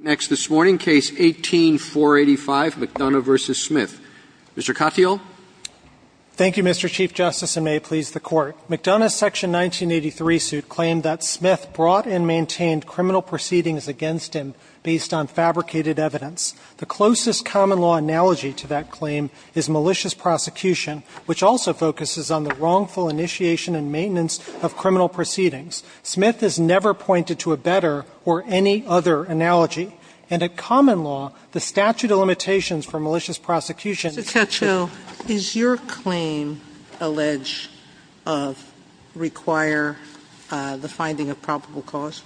Next this morning, Case 18-485, McDonough v. Smith. Mr. Katyal. Thank you, Mr. Chief Justice, and may it please the Court. McDonough's Section 1983 suit claimed that Smith brought and maintained criminal proceedings against him based on fabricated evidence. The closest common-law analogy to that claim is malicious prosecution, which also focuses on the wrongful initiation and maintenance of criminal proceedings. Smith has never pointed to a better or any other analogy, and a common law, the statute of limitations for malicious prosecution Mr. Katyal, is your claim alleged of require the finding of probable cause?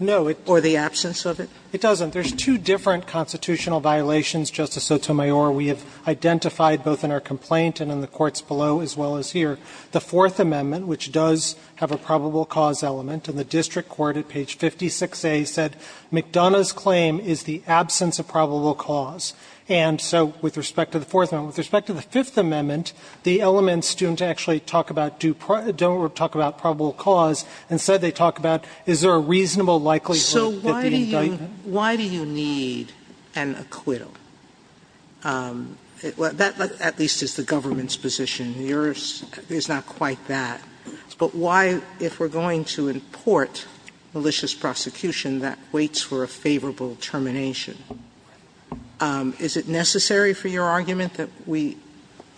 No. Or the absence of it? It doesn't. There's two different constitutional violations, Justice Sotomayor. We have identified both in our complaint and in the courts below as well as here. The Fourth Amendment, which does have a probable cause element, and the district court at page 56A said McDonough's claim is the absence of probable cause. And so with respect to the Fourth Amendment, with respect to the Fifth Amendment, the elements don't actually talk about probable cause. Instead, they talk about is there a reasonable likelihood that the indictment So why do you need an acquittal? That at least is the government's position. Yours is not quite that. But why, if we're going to import malicious prosecution, that waits for a favorable termination? Is it necessary for your argument that we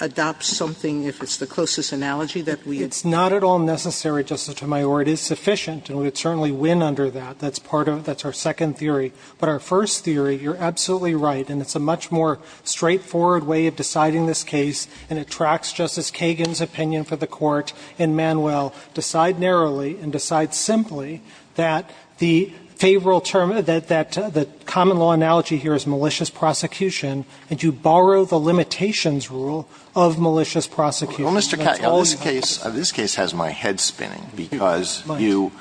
adopt something, if it's the closest analogy, that we adopt? It's not at all necessary, Justice Sotomayor. It is sufficient, and we would certainly win under that. That's part of it. That's our second theory. But our first theory, you're absolutely right, and it's a much more straightforward way of deciding this case, and it tracks Justice Kagan's opinion for the Court in Manuel. Decide narrowly and decide simply that the favorable term, that the common law analogy here is malicious prosecution, and you borrow the limitations rule of malicious That's all you have to do. Alito, this case has my head spinning, because you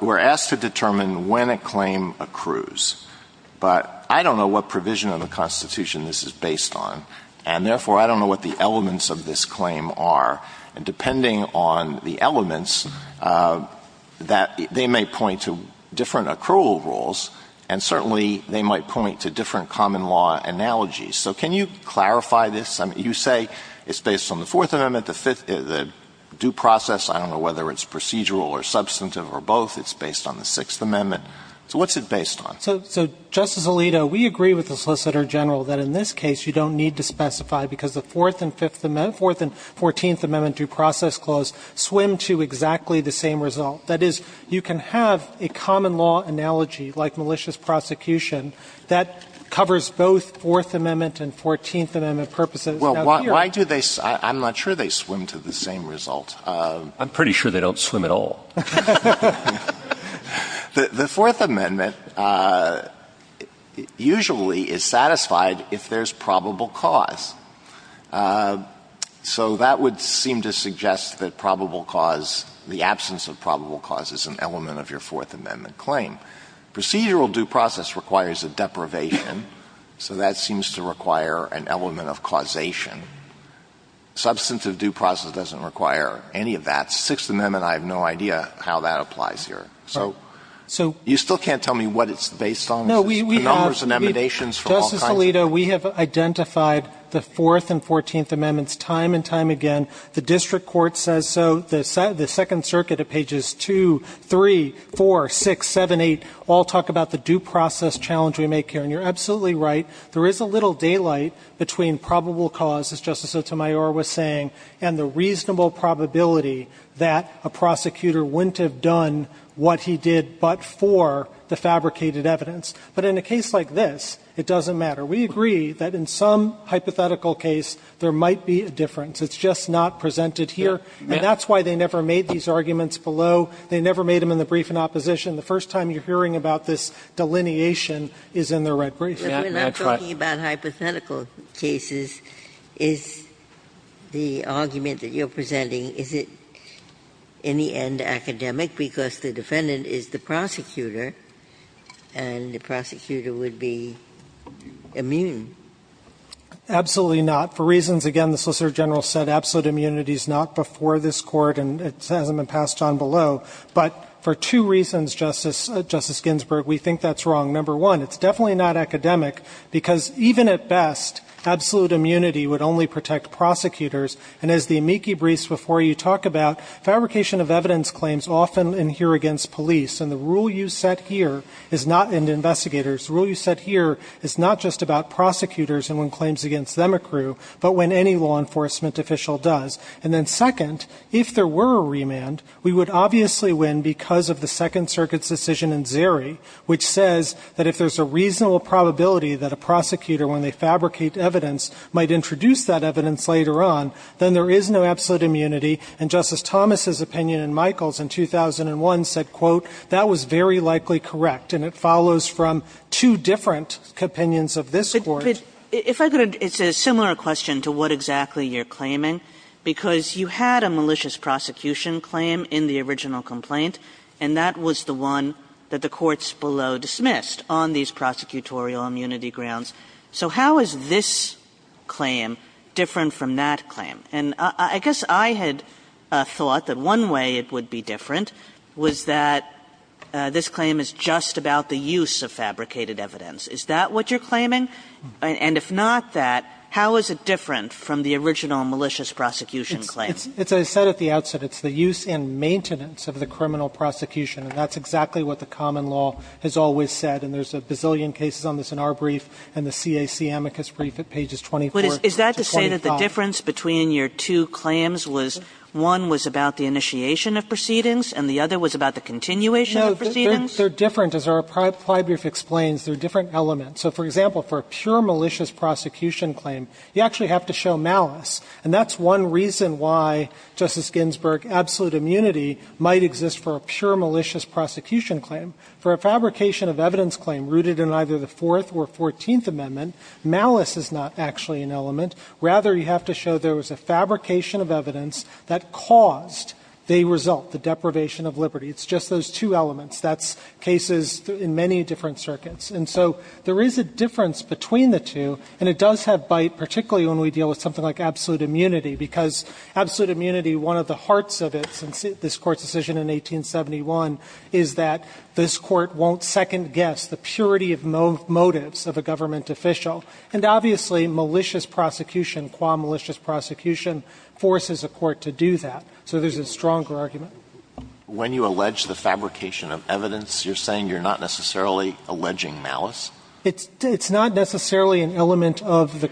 were asked to determine when a claim accrues. But I don't know what provision of the Constitution this is based on, and therefore I don't know what the elements of this claim are. And depending on the elements, they may point to different accrual rules, and certainly they might point to different common law analogies. So can you clarify this? You say it's based on the Fourth Amendment, the due process. I don't know whether it's procedural or substantive or both. It's based on the Sixth Amendment. So what's it based on? So, Justice Alito, we agree with the Solicitor General that in this case you don't need to specify, because the Fourth and Fifth Amendment, Fourth and Fourteenth Amendment due process clause swim to exactly the same result. That is, you can have a common law analogy, like malicious prosecution, that covers both Fourth Amendment and Fourteenth Amendment purposes. Well, why do they – I'm not sure they swim to the same result. I'm pretty sure they don't swim at all. The Fourth Amendment usually is satisfied if there's probable cause. So that would seem to suggest that probable cause, the absence of probable cause is an element of your Fourth Amendment claim. Procedural due process requires a deprivation, so that seems to require an element of causation. Substantive due process doesn't require any of that. The Sixth Amendment, I have no idea how that applies here. So you still can't tell me what it's based on? The numbers and emanations from all kinds of – Justice Alito, we have identified the Fourth and Fourteenth Amendments time and time again. The district court says so. The Second Circuit at pages 2, 3, 4, 6, 7, 8 all talk about the due process challenge we make here. And you're absolutely right. There is a little daylight between probable cause, as Justice Sotomayor was saying, and the reasonable probability that a prosecutor wouldn't have done what he did but for the fabricated evidence. But in a case like this, it doesn't matter. We agree that in some hypothetical case there might be a difference. It's just not presented here. And that's why they never made these arguments below. They never made them in the brief in opposition. The first time you're hearing about this delineation is in the red brief. Ginsburg. But we're not talking about hypothetical cases. Is the argument that you're presenting, is it in the end academic because the defendant is the prosecutor and the prosecutor would be immune? Absolutely not. For reasons, again, the Solicitor General said absolute immunity is not before this Court and it hasn't been passed on below. But for two reasons, Justice Ginsburg, we think that's wrong. Number one, it's definitely not academic because even at best, absolute immunity would only protect prosecutors. And as the amici briefs before you talk about, fabrication of evidence claims often adhere against police. And the rule you set here is not investigators. The rule you set here is not just about prosecutors and when claims against them accrue, but when any law enforcement official does. And then second, if there were a remand, we would obviously win because of the probability that a prosecutor, when they fabricate evidence, might introduce that evidence later on, then there is no absolute immunity. And Justice Thomas' opinion in Michaels in 2001 said, quote, that was very likely correct. And it follows from two different opinions of this Court. If I could, it's a similar question to what exactly you're claiming because you had a malicious prosecution claim in the original complaint and that was the one that the courts below dismissed on these prosecutorial immunity grounds. So how is this claim different from that claim? And I guess I had thought that one way it would be different was that this claim is just about the use of fabricated evidence. Is that what you're claiming? And if not that, how is it different from the original malicious prosecution claim? It's as I said at the outset, it's the use and maintenance of the criminal prosecution and that's exactly what the common law has always said. And there's a bazillion cases on this in our brief and the CAC amicus brief at pages 24 to 25. But is that to say that the difference between your two claims was one was about the initiation of proceedings and the other was about the continuation of proceedings? No, they're different. As our prior brief explains, they're different elements. So, for example, for a pure malicious prosecution claim, you actually have to show malice. And that's one reason why, Justice Ginsburg, absolute immunity might exist for a pure malicious prosecution claim. For a fabrication of evidence claim rooted in either the Fourth or Fourteenth Amendment, malice is not actually an element. Rather, you have to show there was a fabrication of evidence that caused the result, the deprivation of liberty. It's just those two elements. That's cases in many different circuits. And so there is a difference between the two and it does have bite, particularly when we deal with something like absolute immunity, because absolute immunity, one of the hearts of it since this Court's decision in 1871 is that this Court won't second-guess the purity of motives of a government official. And obviously, malicious prosecution, qua malicious prosecution, forces a court to do that. So there's a stronger argument. When you allege the fabrication of evidence, you're saying you're not necessarily alleging malice? It's not necessarily an element of the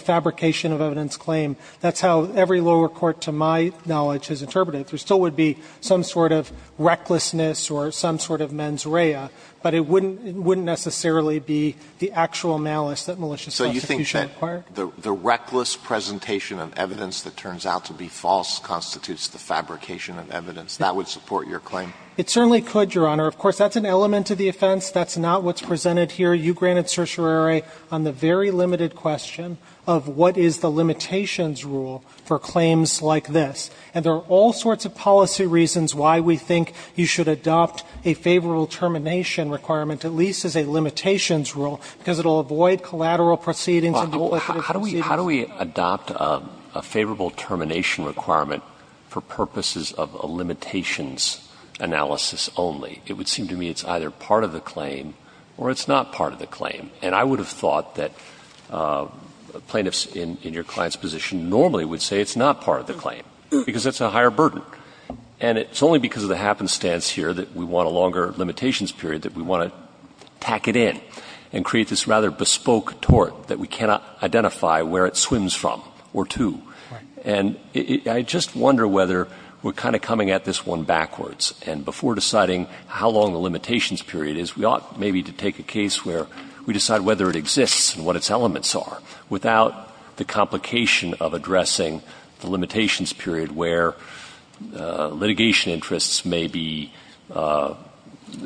fabrication of evidence claim. That's how every lower court to my knowledge has interpreted it. There still would be some sort of recklessness or some sort of mens rea, but it wouldn't necessarily be the actual malice that malicious prosecution required. So you think that the reckless presentation of evidence that turns out to be false constitutes the fabrication of evidence? That would support your claim? It certainly could, Your Honor. Of course, that's an element of the offense. That's not what's presented here. You granted certiorari on the very limited question of what is the limitations rule for claims like this. And there are all sorts of policy reasons why we think you should adopt a favorable termination requirement, at least as a limitations rule, because it will avoid collateral proceedings and multiplicative proceedings. How do we adopt a favorable termination requirement for purposes of a limitations analysis only? It would seem to me it's either part of the claim or it's not part of the claim. And I would have thought that plaintiffs in your client's position normally would say it's not part of the claim, because it's a higher burden. And it's only because of the happenstance here that we want a longer limitations period, that we want to tack it in and create this rather bespoke tort that we cannot identify where it swims from or to. And I just wonder whether we're kind of coming at this one backwards. And before deciding how long the limitations period is, we ought maybe to take a case where we decide whether it exists and what its elements are, without the complication of addressing the limitations period where litigation interests may be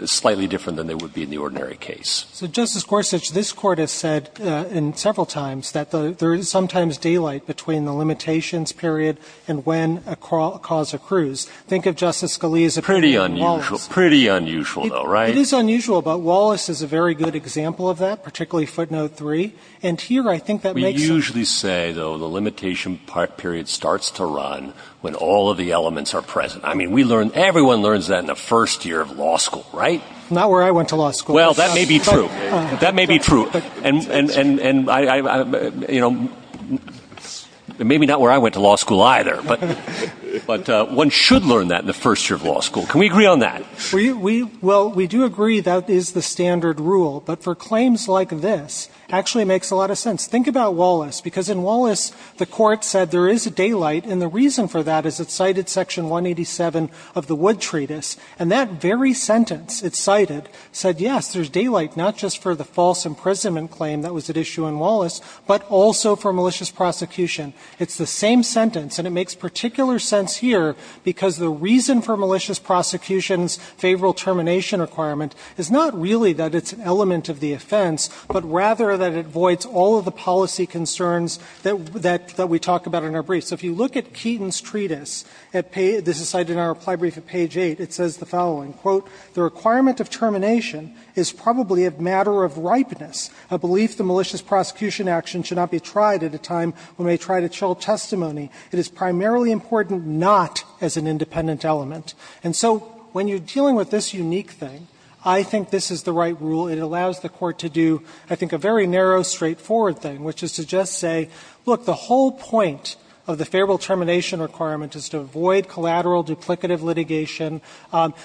slightly different than they would be in the ordinary case. So Justice Gorsuch, this Court has said several times that there is sometimes daylight between the limitations period and when a cause accrues. Think of Justice Scalia's opinion on Wallace. Pretty unusual, though, right? It is unusual, but Wallace is a very good example of that, particularly footnote 3. And here I think that makes sense. We usually say, though, the limitation period starts to run when all of the elements are present. I mean, everyone learns that in the first year of law school, right? Not where I went to law school. Well, that may be true. That may be true. And maybe not where I went to law school either. But one should learn that in the first year of law school. Can we agree on that? Well, we do agree that is the standard rule. But for claims like this, it actually makes a lot of sense. Think about Wallace. Because in Wallace, the Court said there is daylight. And the reason for that is it cited Section 187 of the Wood Treatise. And that very sentence it cited said, yes, there's daylight, not just for the false imprisonment claim that was at issue in Wallace, but also for malicious prosecution. It's the same sentence. And it makes particular sense here because the reason for malicious prosecution's favorable termination requirement is not really that it's an element of the offense, but rather that it voids all of the policy concerns that we talk about in our brief. So if you look at Keaton's treatise, this is cited in our reply brief at page 8, it says the following. Quote, The requirement of termination is probably a matter of ripeness. I believe the malicious prosecution action should not be tried at a time when we try to chill testimony. It is primarily important not as an independent element. And so when you're dealing with this unique thing, I think this is the right rule. It allows the Court to do, I think, a very narrow, straightforward thing, which is to just say, look, the whole point of the favorable termination requirement is to avoid collateral duplicative litigation,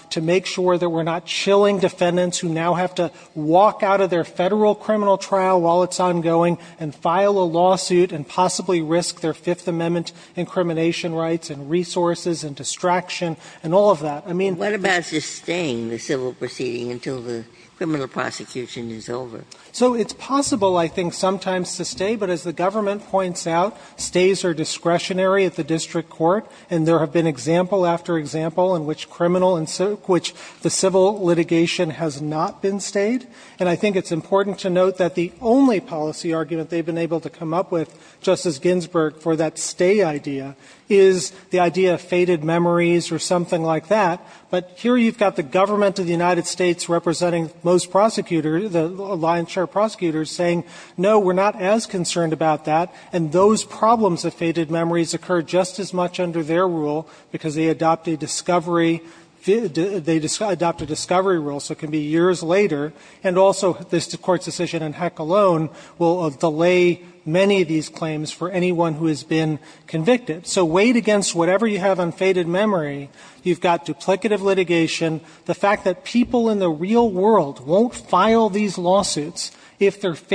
to make sure that we're not chilling defendants who now have to walk out of their Federal criminal trial while it's ongoing and file a lawsuit and possibly risk their Fifth Amendment incrimination rights and resources and distraction and all of that. I mean the ---- Ginsburg What about just staying the civil proceeding until the criminal prosecution is over? Katyal So it's possible, I think, sometimes to stay. But as the government points out, stays are discretionary at the district court. And there have been example after example in which criminal and civil ---- which the civil litigation has not been stayed. And I think it's important to note that the only policy argument they've been able to come up with, Justice Ginsburg, for that stay idea is the idea of faded memories or something like that. But here you've got the government of the United States representing most prosecutors ---- the lion's share of prosecutors saying, no, we're not as concerned about that. And those problems of faded memories occur just as much under their rule because they adopt a discovery ---- they adopt a discovery rule, so it can be years later. And also, this Court's decision in Heck alone will delay many of these claims for anyone who has been convicted. So weighed against whatever you have on faded memory, you've got duplicative litigation, the fact that people in the real world won't file these lawsuits if they're And that's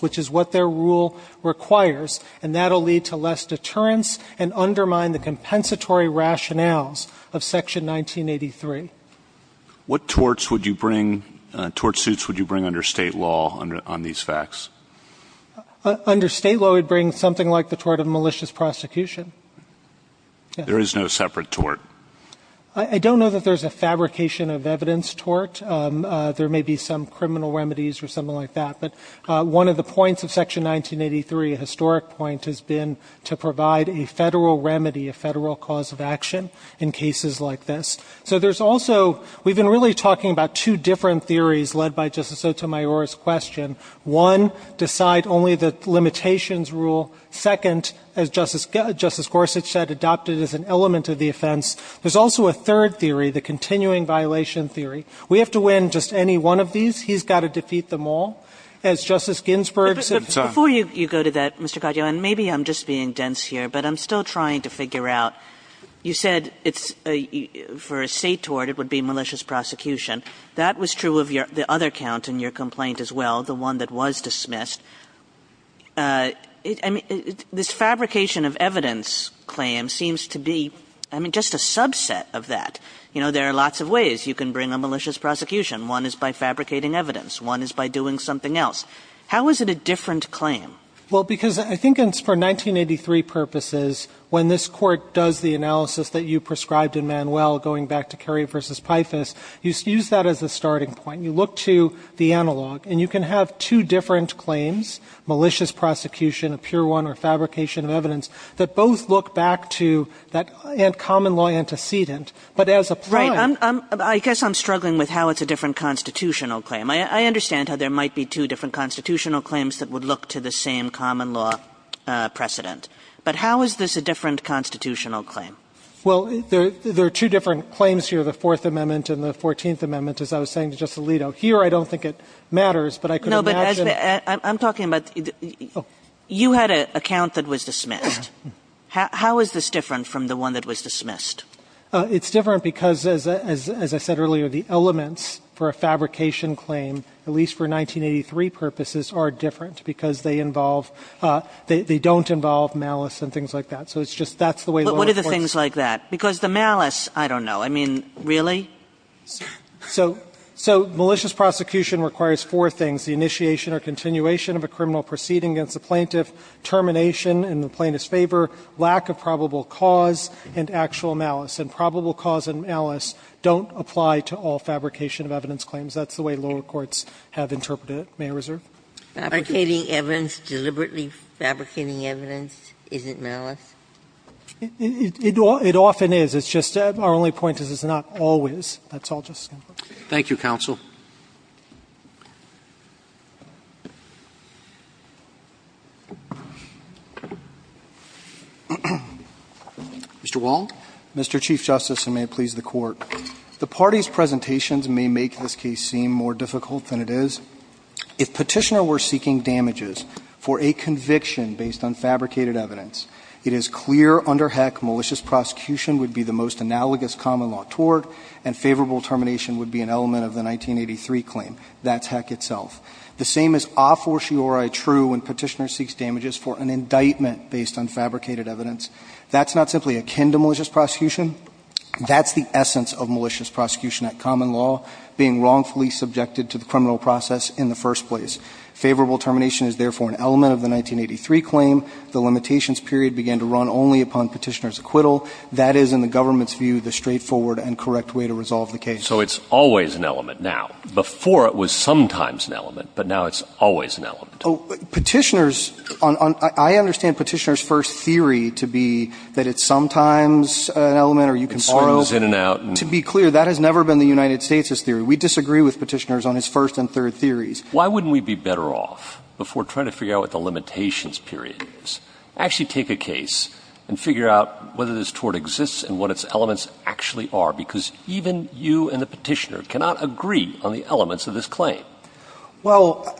what this Court requires, and that will lead to less deterrence and undermine the compensatory rationales of Section 1983. What torts would you bring ---- tort suits would you bring under State law on these facts? Under State law, we'd bring something like the tort of malicious prosecution. There is no separate tort. I don't know that there's a fabrication of evidence tort. There may be some criminal remedies or something like that. But one of the points of Section 1983, a historic point, has been to provide a federal remedy, a federal cause of action in cases like this. So there's also ---- we've been really talking about two different theories led by Justice Sotomayor's question. One, decide only the limitations rule. Second, as Justice Gorsuch said, adopt it as an element of the offense. There's also a third theory, the continuing violation theory. We have to win just any one of these. He's got to defeat them all. As Justice Ginsburg said ---- Kagan. Kagan. Kagan. And maybe I'm just being dense here, but I'm still trying to figure out, you said for a state tort it would be malicious prosecution. That was true of your other count in your complaint as well, the one that was dismissed. I mean, this fabrication of evidence claim seems to be, I mean, just a subset of that. You know, there are lots of ways you can bring a malicious prosecution. One is by fabricating evidence. One is by doing something else. How is it a different claim? Well, because I think for 1983 purposes, when this Court does the analysis that you prescribed in Manuel going back to Kerry v. Pifus, you use that as a starting point. You look to the analog, and you can have two different claims, malicious prosecution, a pure one, or fabrication of evidence, that both look back to that common law antecedent, but as a prime. Right. I guess I'm struggling with how it's a different constitutional claim. I understand how there might be two different constitutional claims that would look to the same common law precedent. But how is this a different constitutional claim? Well, there are two different claims here, the Fourth Amendment and the Fourteenth Amendment, as I was saying to Justice Alito. Here I don't think it matters, but I could imagine. No, but I'm talking about you had an account that was dismissed. How is this different from the one that was dismissed? It's different because, as I said earlier, the elements for a fabrication claim, at least for 1983 purposes, are different because they involve – they don't involve malice and things like that. So it's just – that's the way lower courts – But what are the things like that? Because the malice, I don't know. I mean, really? So malicious prosecution requires four things, the initiation or continuation of a criminal proceeding against the plaintiff, termination in the plaintiff's favor, lack of probable cause, and actual malice. And probable cause and malice don't apply to all fabrication of evidence claims. That's the way lower courts have interpreted it. May I reserve? Fabricating evidence, deliberately fabricating evidence isn't malice? It often is. It's just our only point is it's not always. That's all. Thank you, counsel. Mr. Wong. Mr. Chief Justice, and may it please the Court. The party's presentations may make this case seem more difficult than it is. If Petitioner were seeking damages for a conviction based on fabricated evidence, it is clear under heck malicious prosecution would be the most analogous common law toward, and favorable termination would be an element of the 1983 claim. That's heck itself. The same is a fortiori true when Petitioner seeks damages for an indictment based on fabricated evidence. That's not simply akin to malicious prosecution. That's the essence of malicious prosecution at common law, being wrongfully subjected to the criminal process in the first place. Favorable termination is therefore an element of the 1983 claim. The limitations period began to run only upon Petitioner's acquittal. That is, in the government's view, the straightforward and correct way to resolve the case. So it's always an element now. Before, it was sometimes an element. But now it's always an element. Petitioners, I understand Petitioner's first theory to be that it's sometimes an element or you can borrow. It swims in and out. To be clear, that has never been the United States' theory. We disagree with Petitioner's on his first and third theories. Why wouldn't we be better off, before trying to figure out what the limitations period is, actually take a case and figure out whether this tort exists and what its elements actually are? Because even you and the Petitioner cannot agree on the elements of this claim. Well,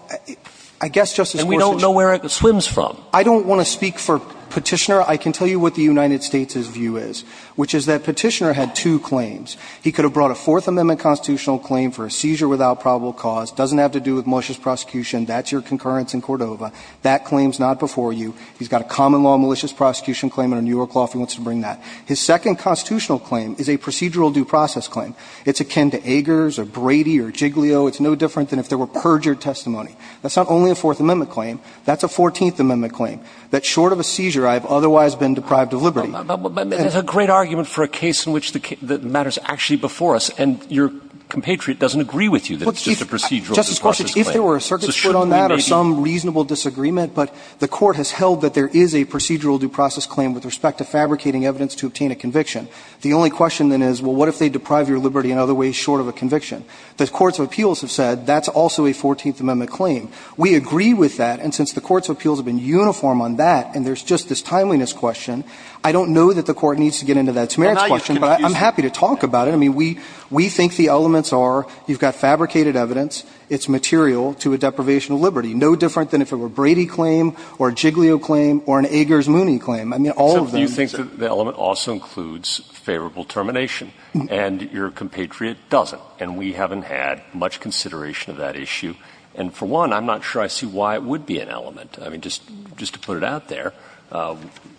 I guess, Justice Scorsese. And we don't know where it swims from. I don't want to speak for Petitioner. I can tell you what the United States' view is, which is that Petitioner had two claims. He could have brought a Fourth Amendment constitutional claim for a seizure without probable cause, doesn't have to do with malicious prosecution, that's your concurrence in Cordova. That claim is not before you. He's got a common law malicious prosecution claim under New York law if he wants to bring that. His second constitutional claim is a procedural due process claim. It's akin to Eggers or Brady or Giglio. It's no different than if there were perjured testimony. That's not only a Fourth Amendment claim. That's a Fourteenth Amendment claim, that short of a seizure, I have otherwise been deprived of liberty. But there's a great argument for a case in which the matter is actually before us, and your compatriot doesn't agree with you that it's just a procedural due process claim. Piotrowski. Well, I don't know if there were a circuit score on that or some reasonable disagreement, but the Court has held that there is a procedural due process claim with respect to fabricating evidence to obtain a conviction. The only question then is, well, what if they deprive your liberty in other ways short of a conviction? The courts of appeals have said that's also a Fourteenth Amendment claim. We agree with that, and since the courts of appeals have been uniform on that and there's just this timeliness question, I don't know that the Court needs to get into It's a merits question, but I'm happy to talk about it. I mean, we think the elements are you've got fabricated evidence, it's material to a deprivation of liberty, no different than if it were a Brady claim or a Giglio claim or an Eggers-Mooney claim. I mean, all of them. So you think that the element also includes favorable termination, and your compatriot doesn't, and we haven't had much consideration of that issue. And for one, I'm not sure I see why it would be an element. I mean, just to put it out there,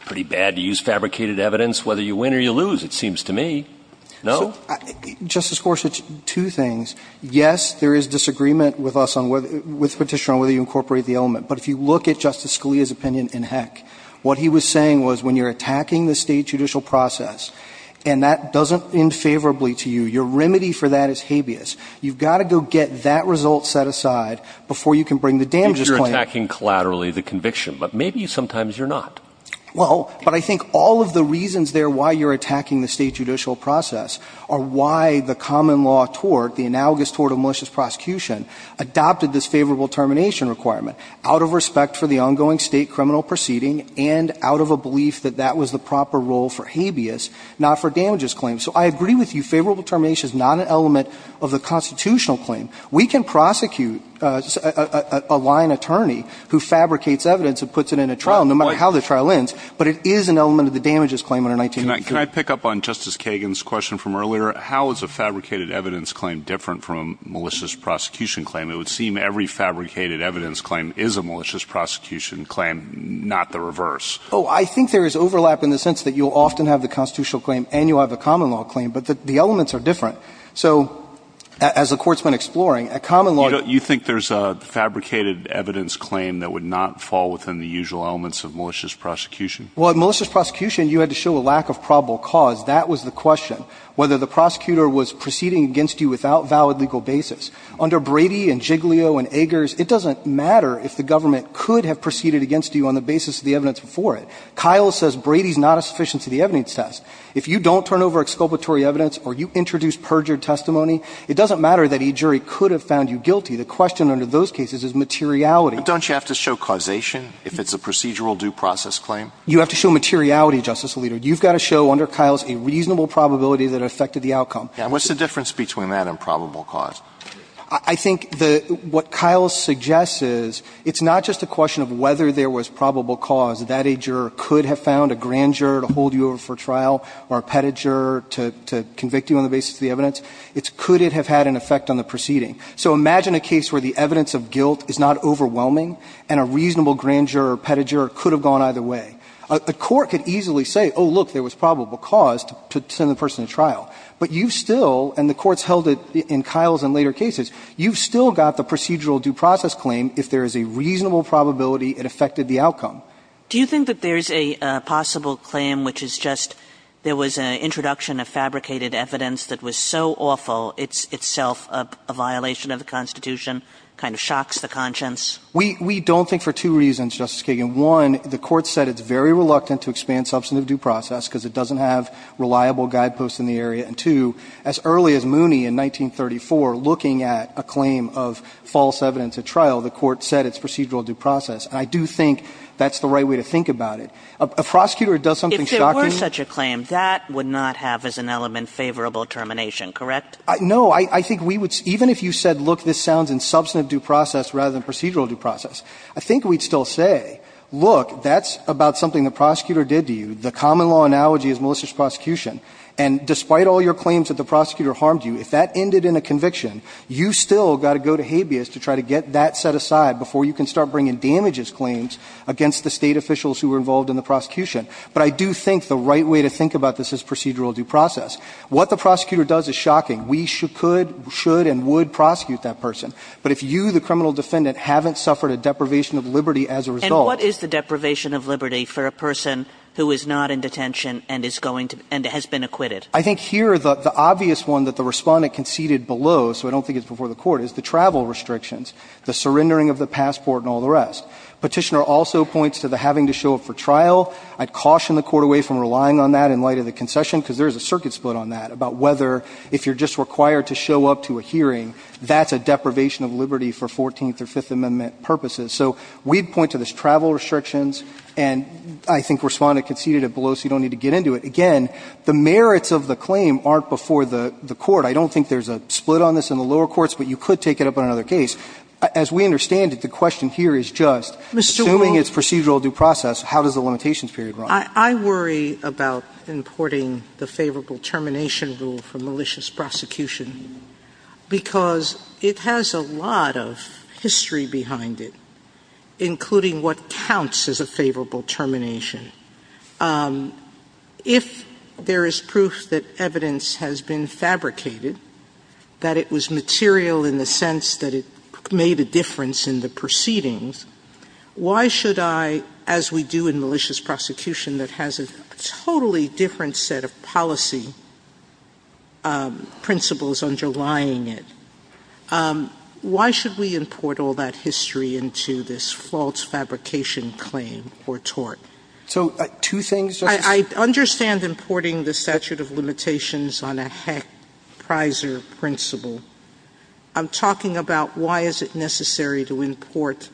pretty bad to use fabricated evidence whether you win or you lose, it seems to me. No? Justice Gorsuch, two things. Yes, there is disagreement with us on whether, with Petitioner on whether you incorporate the element. But if you look at Justice Scalia's opinion in Heck, what he was saying was when you're attacking the State judicial process and that doesn't end favorably to you, your remedy for that is habeas. You've got to go get that result set aside before you can bring the damages claim. You're attacking collaterally the conviction, but maybe sometimes you're not. Well, but I think all of the reasons there why you're attacking the State judicial process are why the common law tort, the analogous tort of malicious prosecution, adopted this favorable termination requirement out of respect for the ongoing State criminal proceeding and out of a belief that that was the proper role for habeas, not for damages claim. So I agree with you. Favorable termination is not an element of the constitutional claim. We can prosecute a lying attorney who fabricates evidence and puts it in a trial no matter how the trial ends, but it is an element of the damages claim under 1983. And can I pick up on Justice Kagan's question from earlier? How is a fabricated evidence claim different from a malicious prosecution claim? It would seem every fabricated evidence claim is a malicious prosecution claim, not the reverse. Oh, I think there is overlap in the sense that you'll often have the constitutional claim and you'll have a common law claim, but the elements are different. So as the Court's been exploring, a common law. You think there's a fabricated evidence claim that would not fall within the usual elements of malicious prosecution? Well, in malicious prosecution, you had to show a lack of probable cause. That was the question, whether the prosecutor was proceeding against you without valid legal basis. Under Brady and Giglio and Eggers, it doesn't matter if the government could have proceeded against you on the basis of the evidence before it. Kyle says Brady's not a sufficient to the evidence test. If you don't turn over exculpatory evidence or you introduce perjured testimony, it doesn't matter that a jury could have found you guilty. The question under those cases is materiality. But don't you have to show causation if it's a procedural due process claim? You have to show materiality, Justice Alito. You've got to show under Kyle's a reasonable probability that it affected the outcome. And what's the difference between that and probable cause? I think what Kyle suggests is it's not just a question of whether there was probable cause, that a juror could have found a grand juror to hold you over for trial or a petit juror to convict you on the basis of the evidence. It's could it have had an effect on the proceeding. A grand juror or a petit juror could have gone either way. A court could easily say, oh, look, there was probable cause to send the person to trial. But you've still, and the Court's held it in Kyle's and later cases, you've still got the procedural due process claim if there is a reasonable probability it affected the outcome. Do you think that there's a possible claim which is just there was an introduction of fabricated evidence that was so awful it's itself a violation of the Constitution, kind of shocks the conscience? We don't think for two reasons, Justice Kagan. One, the Court said it's very reluctant to expand substantive due process because it doesn't have reliable guideposts in the area. And two, as early as Mooney in 1934, looking at a claim of false evidence at trial, the Court said it's procedural due process. And I do think that's the right way to think about it. A prosecutor does something shocking. If there were such a claim, that would not have as an element favorable termination, correct? No. I think we would, even if you said, look, this sounds in substantive due process rather than procedural due process, I think we'd still say, look, that's about something the prosecutor did to you. The common law analogy is malicious prosecution. And despite all your claims that the prosecutor harmed you, if that ended in a conviction, you still got to go to habeas to try to get that set aside before you can start bringing damages claims against the State officials who were involved in the prosecution. But I do think the right way to think about this is procedural due process. What the prosecutor does is shocking. We could, should, and would prosecute that person. But if you, the criminal defendant, haven't suffered a deprivation of liberty as a result. And what is the deprivation of liberty for a person who is not in detention and is going to, and has been acquitted? I think here the obvious one that the Respondent conceded below, so I don't think it's before the Court, is the travel restrictions, the surrendering of the passport and all the rest. Petitioner also points to the having to show up for trial. I'd caution the Court away from relying on that in light of the concession, because there is a circuit split on that, about whether if you're just required to show up to a hearing, that's a deprivation of liberty for Fourteenth or Fifth Amendment purposes. So we'd point to this travel restrictions, and I think Respondent conceded it below so you don't need to get into it. Again, the merits of the claim aren't before the Court. I don't think there's a split on this in the lower courts, but you could take it up on another case. As we understand it, the question here is just, assuming it's procedural due process, how does the limitations period run? I worry about importing the favorable termination rule from malicious prosecution because it has a lot of history behind it, including what counts as a favorable termination. If there is proof that evidence has been fabricated, that it was material in the sense that it made a difference in the proceedings, why should I, as we do in malicious prosecution that has a totally different set of policy principles underlying it, why should we import all that history into this false fabrication claim or tort? So, two things. I understand importing the statute of limitations on a Heck-Prizer principle. I'm talking about why is it necessary to import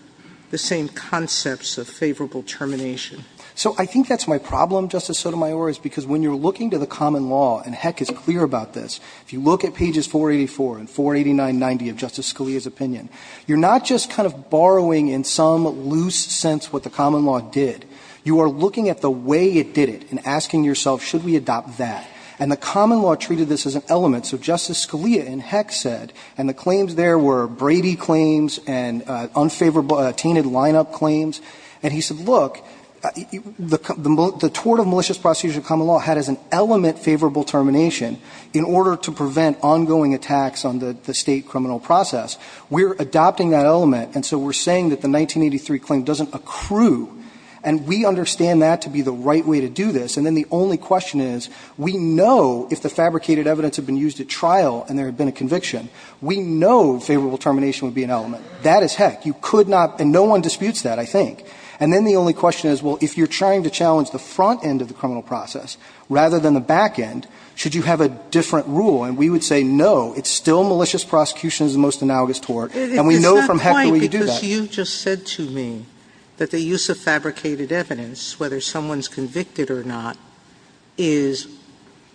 the same concepts of favorable termination. So, I think that's my problem, Justice Sotomayor, is because when you're looking to the common law, and Heck is clear about this, if you look at pages 484 and 48990 of Justice Scalia's opinion, you're not just kind of borrowing in some loose sense what the common law did. You are looking at the way it did it and asking yourself, should we adopt that? And the common law treated this as an element. So Justice Scalia in Heck said, and the claims there were Brady claims and unfavorable tainted lineup claims, and he said, look, the tort of malicious prosecution of common law had as an element favorable termination in order to prevent ongoing attacks on the State criminal process. We're adopting that element, and so we're saying that the 1983 claim doesn't accrue. And we understand that to be the right way to do this. And then the only question is, we know if the fabricated evidence had been used at trial and there had been a conviction, we know favorable termination would be an element. That is Heck. You could not, and no one disputes that, I think. And then the only question is, well, if you're trying to challenge the front end of the criminal process rather than the back end, should you have a different rule? And we would say no, it's still malicious prosecution is the most analogous tort, and we know from Heck that we do that. Sotomayor It's not quite because you just said to me that the use of fabricated evidence, whether someone's convicted or not, is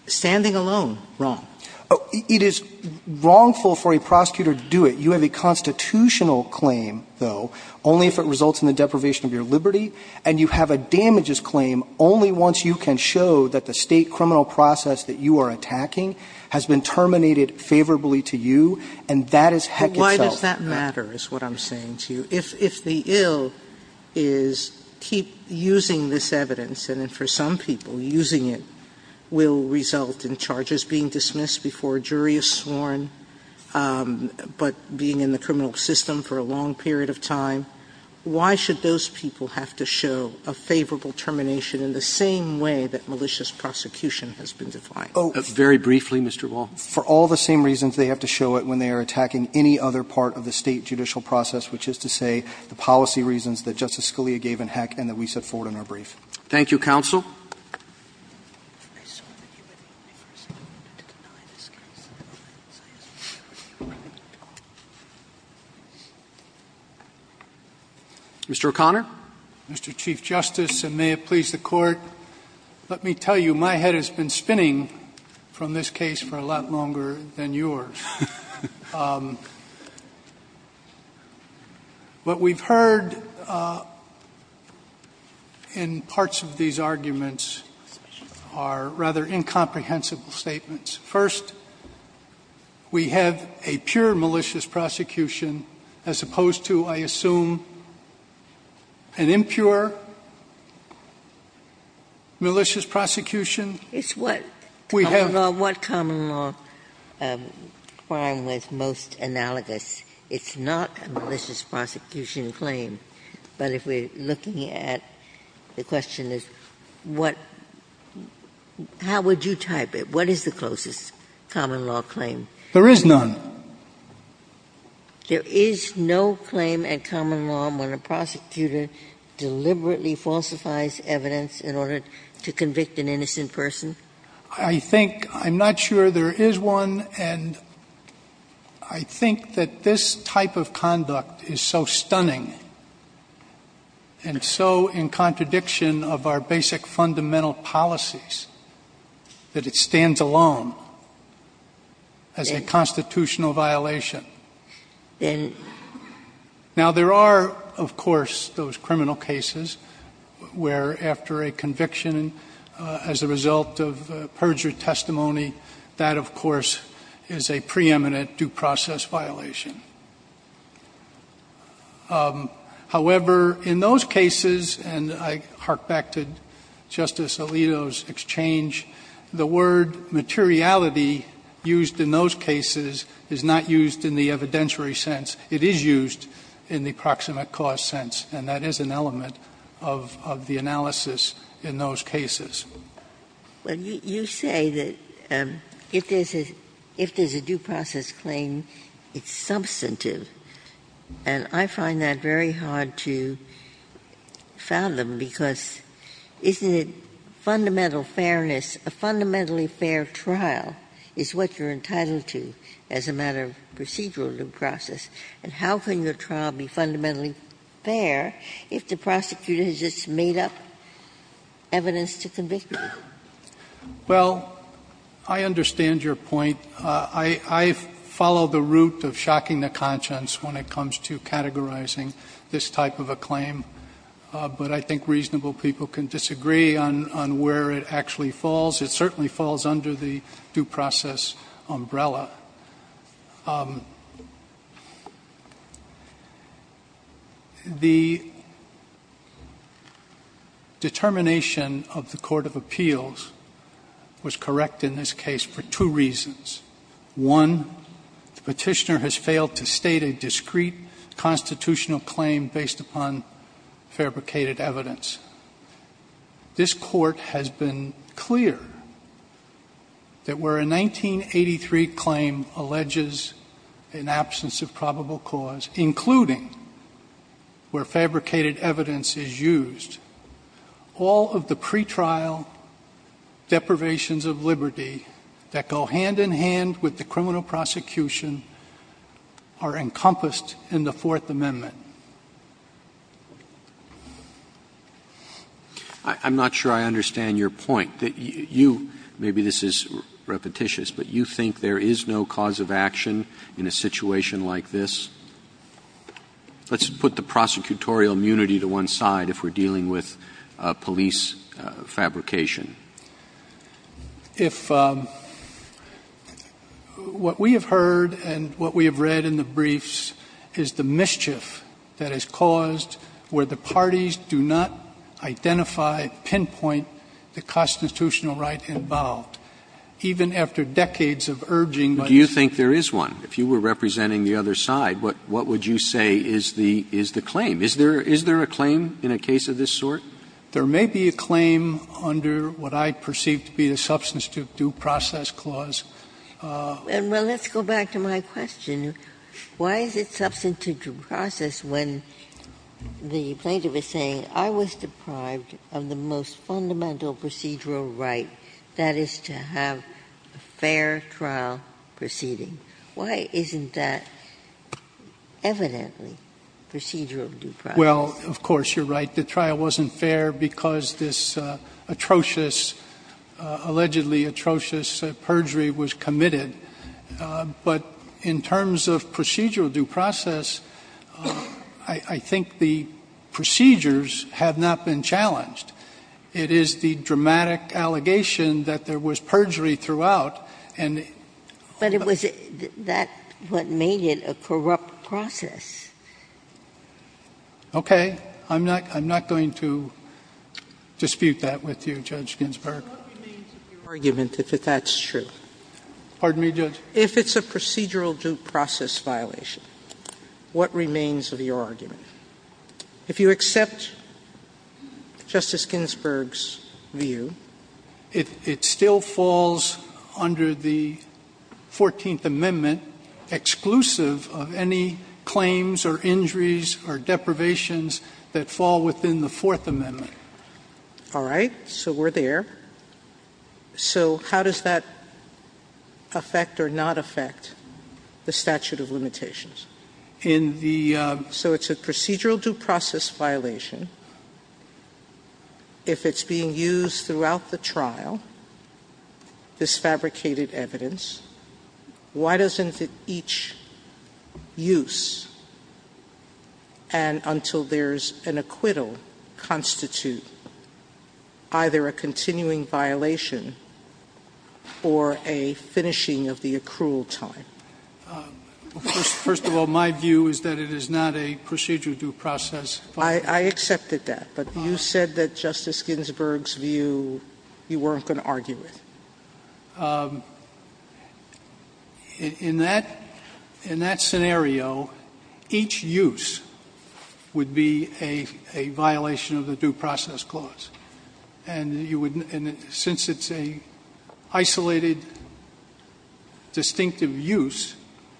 standing alone wrong. It is wrongful for a prosecutor to do it. You have a constitutional claim, though, only if it results in the deprivation of your liberty, and you have a damages claim only once you can show that the State criminal process that you are attacking has been terminated favorably to you, and that is Heck itself. Sotomayor Why does that matter is what I'm saying to you. If the ill is keep using this evidence, and for some people, using it will result in charges being dismissed before a jury is sworn, but being in the criminal system for a long period of time, why should those people have to show a favorable termination in the same way that malicious prosecution has been defined? Very briefly, Mr. Wall. Wall For all the same reasons, they have to show it when they are attacking any other part of the State judicial process, which is to say the policy reasons that Justice Scalia gave in Heck and that we set forward in our brief. Thank you, Counsel. Mr. O'Connor. Mr. Chief Justice, and may it please the Court, let me tell you, my head has been spinning from this case for a lot longer than yours. What we've heard in parts of these arguments are rather incomprehensible statements. First, we have a pure malicious prosecution as opposed to, I assume, an impure malicious prosecution. It's what? We have. Common law. What common law? The common law crime was most analogous. It's not a malicious prosecution claim. But if we're looking at, the question is what, how would you type it? What is the closest common law claim? There is none. There is no claim in common law when a prosecutor deliberately falsifies evidence in order to convict an innocent person? I think, I'm not sure there is one, and I think that this type of conduct is so stunning and so in contradiction of our basic fundamental policies that it stands alone as a constitutional violation. Now, there are, of course, those criminal cases where after a conviction as a result of perjured testimony, that, of course, is a preeminent due process violation. However, in those cases, and I hark back to Justice Alito's exchange, the word materiality used in those cases is not used in the evidentiary sense. It is used in the proximate cause sense, and that is an element of the analysis in those cases. Ginsburg. Well, you say that if there is a due process claim, it's substantive, and I find that very hard to fathom, because isn't it fundamental fairness? A fundamentally fair trial is what you're entitled to as a matter of procedural due process, and how can your trial be fundamentally fair if the prosecutor has just made up evidence to convict you? Well, I understand your point. I follow the route of shocking the conscience when it comes to categorizing this type of a claim, but I think reasonable people can disagree on where it actually falls. It certainly falls under the due process umbrella. The determination of the court of appeals was correct in this case for two reasons. One, the Petitioner has failed to state a discrete constitutional claim based upon fabricated evidence. This Court has been clear that where a 1983 claim alleges an absence of probable cause, including where fabricated evidence is used, all of the pretrial deprivations of liberty that go hand in hand with the criminal prosecution are encompassed in the Fourth Amendment. I'm not sure I understand your point. You – maybe this is repetitious, but you think there is no cause of action in a situation like this? Let's put the prosecutorial immunity to one side if we're dealing with police fabrication. If – what we have heard and what we have read in the briefs is the mischief that is caused where the parties do not identify, pinpoint the constitutional right involved, even after decades of urging. But do you think there is one? If you were representing the other side, what would you say is the claim? Is there a claim in a case of this sort? There may be a claim under what I perceive to be a substance due process clause. And, well, let's go back to my question. Why is it substance due process when the plaintiff is saying, I was deprived of the most fundamental procedural right, that is to have a fair trial proceeding? Why isn't that evidently procedural due process? Well, of course, you're right. The trial wasn't fair because this atrocious, allegedly atrocious, perjury was committed. But in terms of procedural due process, I think the procedures have not been challenged. It is the dramatic allegation that there was perjury throughout, and the – But it was that what made it a corrupt process. Okay. I'm not going to dispute that with you, Judge Ginsburg. What remains of your argument, if that's true? Pardon me, Judge? If it's a procedural due process violation, what remains of your argument? If you accept Justice Ginsburg's view. It still falls under the 14th Amendment, exclusive of any claims or injuries or deprivations that fall within the Fourth Amendment. All right. So we're there. So how does that affect or not affect the statute of limitations? In the – So it's a procedural due process violation. If it's being used throughout the trial, this fabricated evidence, why doesn't each use and until there's an acquittal constitute either a continuing violation or a finishing of the accrual time? First of all, my view is that it is not a procedural due process violation. I accepted that. But you said that Justice Ginsburg's view you weren't going to argue with. In that scenario, each use would be a violation of the due process clause. And since it's a isolated, distinctive use,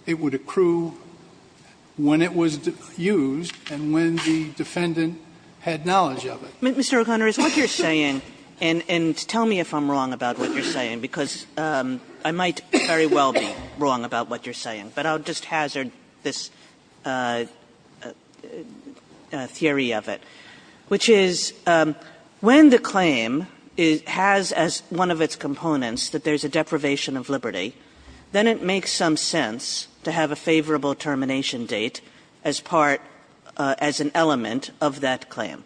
it would accrue when it was used and when the defendant had knowledge of it. Mr. O'Connor, is what you're saying, and tell me if I'm wrong about what you're saying, because I might very well be wrong about what you're saying, but I'll just When the claim has as one of its components that there's a deprivation of liberty, then it makes some sense to have a favorable termination date as part – as an element of that claim.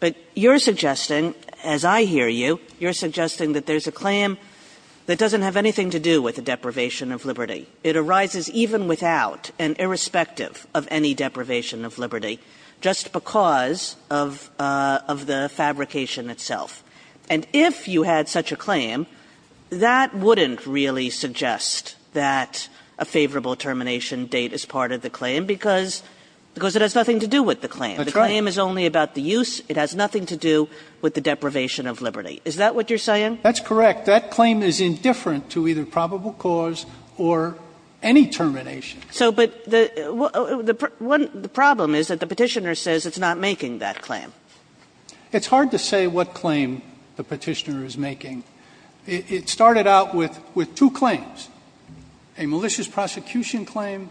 But you're suggesting, as I hear you, you're suggesting that there's a claim that doesn't have anything to do with a deprivation of liberty. It arises even without and irrespective of any deprivation of liberty just because of the fabrication itself. And if you had such a claim, that wouldn't really suggest that a favorable termination date is part of the claim, because it has nothing to do with the claim. That's right. The claim is only about the use. It has nothing to do with the deprivation of liberty. Is that what you're saying? That's correct. That claim is indifferent to either probable cause or any termination. But the problem is that the Petitioner says it's not making that claim. It's hard to say what claim the Petitioner is making. It started out with two claims, a malicious prosecution claim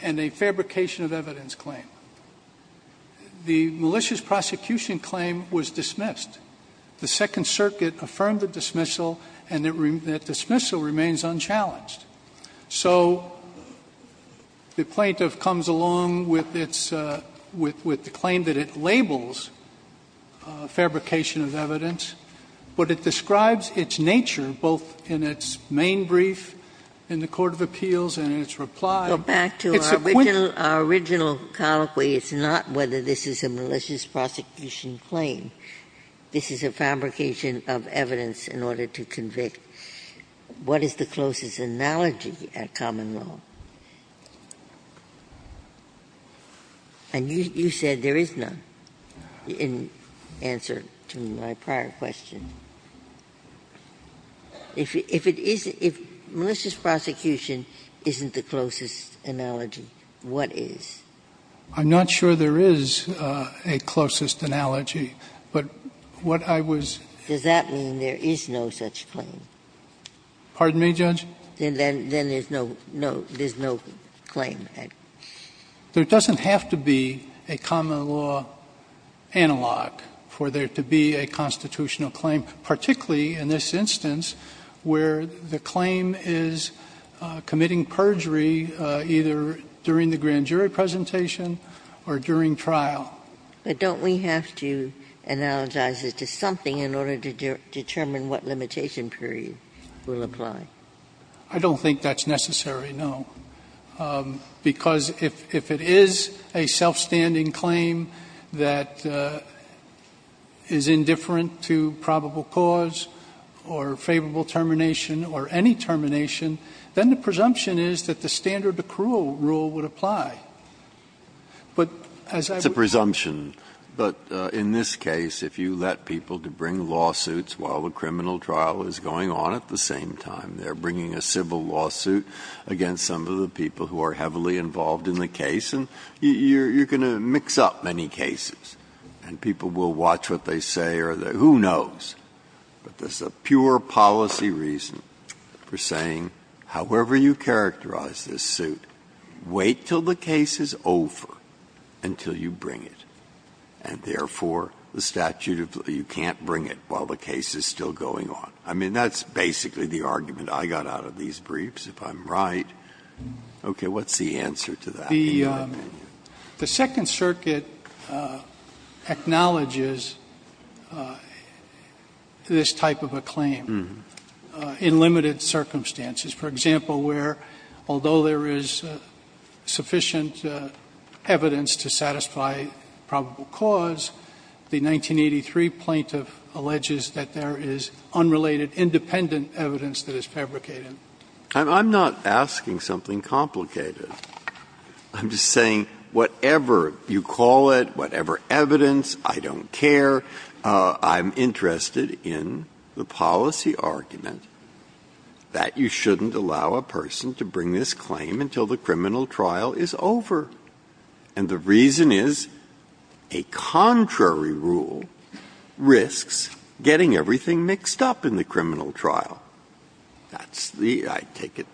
and a fabrication of evidence claim. The malicious prosecution claim was dismissed. The Second Circuit affirmed the dismissal, and that dismissal remains unchallenged. So the plaintiff comes along with its – with the claim that it labels fabrication of evidence, but it describes its nature, both in its main brief in the court of appeals and in its reply. It's a quid pro quo. Our original colloquy is not whether this is a malicious prosecution claim. This is a fabrication of evidence in order to convict. What is the closest analogy at common law? And you said there is none in answer to my prior question. If it is – if malicious prosecution isn't the closest analogy, what is? I'm not sure there is a closest analogy. But what I was – Does that mean there is no such claim? Pardon me, Judge? Then there's no – there's no claim. There doesn't have to be a common law analog for there to be a constitutional claim, particularly in this instance where the claim is committing perjury either during the grand jury presentation or during trial. But don't we have to analogize it to something in order to determine what limitation period will apply? I don't think that's necessary, no. Because if it is a self-standing claim that is indifferent to probable cause or favorable termination or any termination, then the presumption is that the standard accrual rule would apply. But as I would – It's a presumption. But in this case, if you let people to bring lawsuits while the criminal trial is going on at the same time, they're bringing a civil lawsuit against some of the people who are heavily involved in the case, and you're going to mix up many cases. And people will watch what they say, or who knows. But there's a pure policy reason for saying, however you characterize this suit, wait till the case is over until you bring it, and therefore the statute of you can't bring it while the case is still going on. I mean, that's basically the argument I got out of these briefs, if I'm right. Okay. What's the answer to that, in your opinion? The Second Circuit acknowledges this type of a claim in limited circumstances. For example, where, although there is sufficient evidence to satisfy probable cause, the 1983 plaintiff alleges that there is unrelated independent evidence that is fabricated. I'm not asking something complicated. I'm just saying whatever you call it, whatever evidence, I don't care. I'm interested in the policy argument that you shouldn't allow a person to bring this claim until the criminal trial is over. And the reason is, a contrary rule risks getting everything mixed up in the criminal trial. That's the, I take it,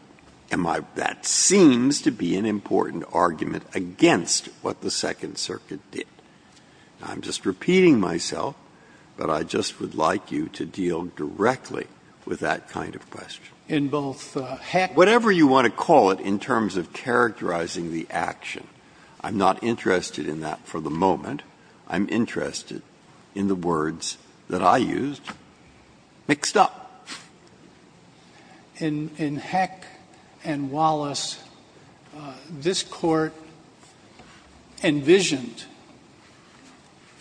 that seems to be an important argument against what the Second Circuit did. I'm just repeating myself, but I just would like you to deal directly with that kind of question. In both Heck and Wallace. Whatever you want to call it in terms of characterizing the action, I'm not interested in that for the moment. I'm interested in the words that I used, mixed up. In Heck and Wallace, this Court envisioned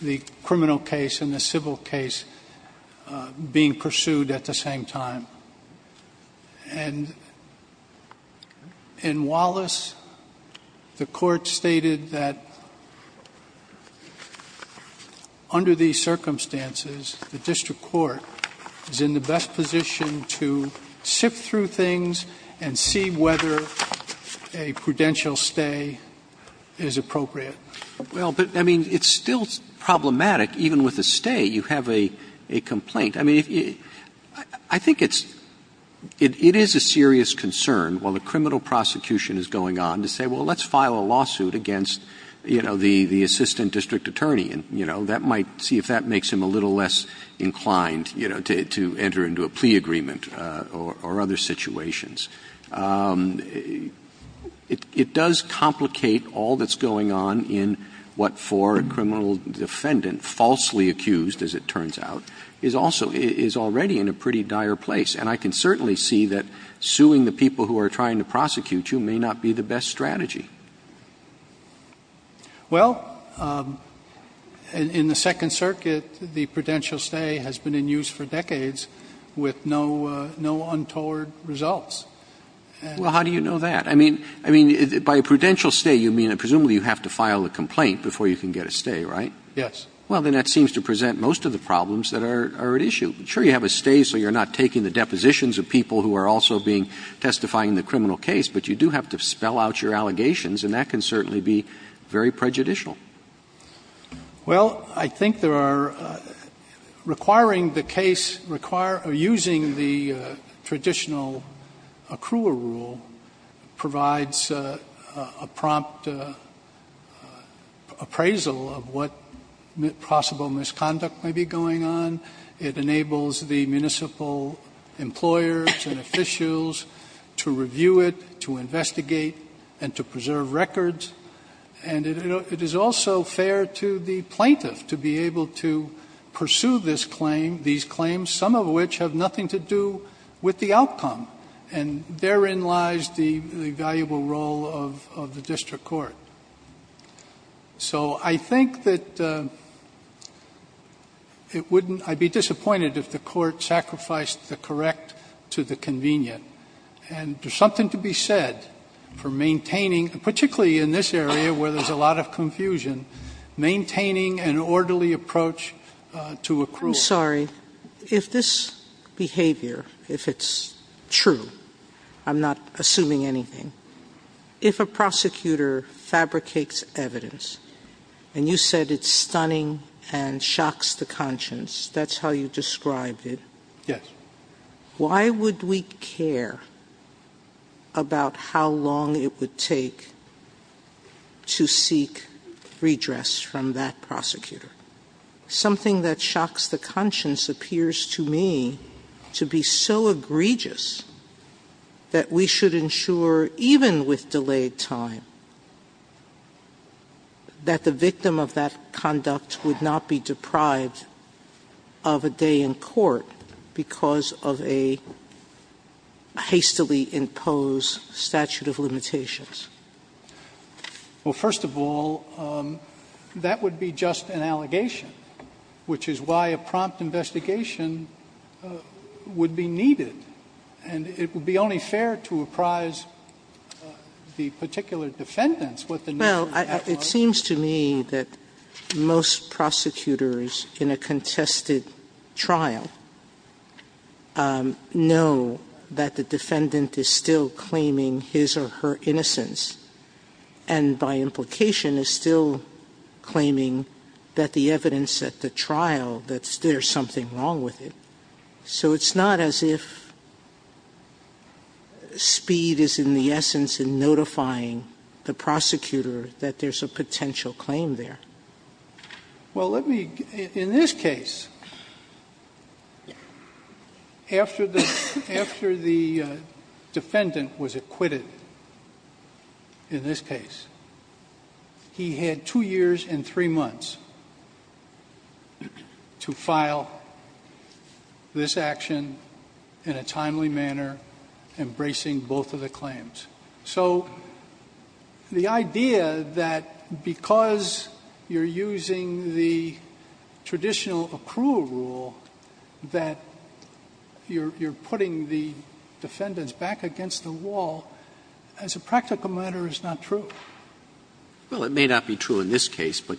the criminal case and the civil case being pursued at the same time. And in Wallace, the Court stated that under these circumstances, the district court is in the best position to sift through things and see whether a prudential stay is appropriate. Well, but, I mean, it's still problematic. Even with a stay, you have a complaint. I mean, I think it's, it is a serious concern while the criminal prosecution is going on to say, well, let's file a lawsuit against, you know, the assistant district attorney. And, you know, that might see if that makes him a little less inclined, you know, to enter into a plea agreement or other situations. It does complicate all that's going on in what, for a criminal defendant, falsely accused, as it turns out, is also, is already in a pretty dire place. And I can certainly see that suing the people who are trying to prosecute you may not be the best strategy. Well, in the Second Circuit, the prudential stay has been in use for decades with no untoward results. Well, how do you know that? I mean, by a prudential stay, you mean presumably you have to file a complaint before you can get a stay, right? Yes. Well, then that seems to present most of the problems that are at issue. Sure, you have a stay so you're not taking the depositions of people who are also being testifying in the criminal case, but you do have to spell out your allegations and that can certainly be very prejudicial. Well, I think there are requiring the case, using the traditional accruer rule provides a prompt appraisal of what possible misconduct may be going on. It enables the municipal employers and officials to review it, to investigate and to preserve records. And it is also fair to the plaintiff to be able to pursue this claim, these claims, some of which have nothing to do with the outcome. And therein lies the valuable role of the district court. So I think that it wouldn't – I'd be disappointed if the court sacrificed the correct to the convenient. And there's something to be said for maintaining, particularly in this area where there's a lot of confusion, maintaining an orderly approach to accrual. I'm sorry. If this behavior, if it's true, I'm not assuming anything. If a prosecutor fabricates evidence and you said it's stunning and shocks the conscience, that's how you described it. Yes. Why would we care about how long it would take to seek redress from that prosecutor? Something that shocks the conscience appears to me to be so egregious that we should ensure, even with delayed time, that the victim of that conduct would not be deprived of a day in court because of a hastily imposed statute of limitations. Well, first of all, that would be just an allegation, which is why a prompt investigation would be needed. And it would be only fair to apprise the particular defendants what the need is. Well, it seems to me that most prosecutors in a contested trial know that the defendant is still claiming his or her innocence, and by implication is still claiming that the evidence at the trial, that there's something wrong with it. So it's not as if speed is in the essence in notifying the prosecutor that there's a potential claim there. Well, let me, in this case, after the defendant was acquitted, in this case, he had two years and three months to file this action in a timely manner, embracing both of the claims. So the idea that because you're using the traditional accrual rule that you're putting the defendants back against the wall, as a practical matter, is not true. Well, it may not be true in this case, but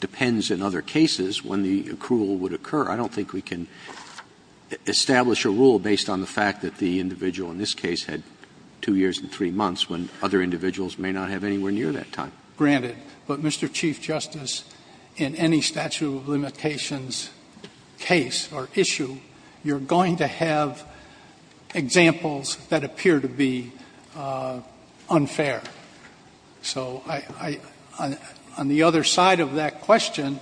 depends in other cases when the accrual would occur. I don't think we can establish a rule based on the fact that the individual in this case had two years and three months when other individuals may not have anywhere near that time. Granted. But, Mr. Chief Justice, in any statute of limitations case or issue, you're going to have examples that appear to be unfair. So I — on the other side of that question,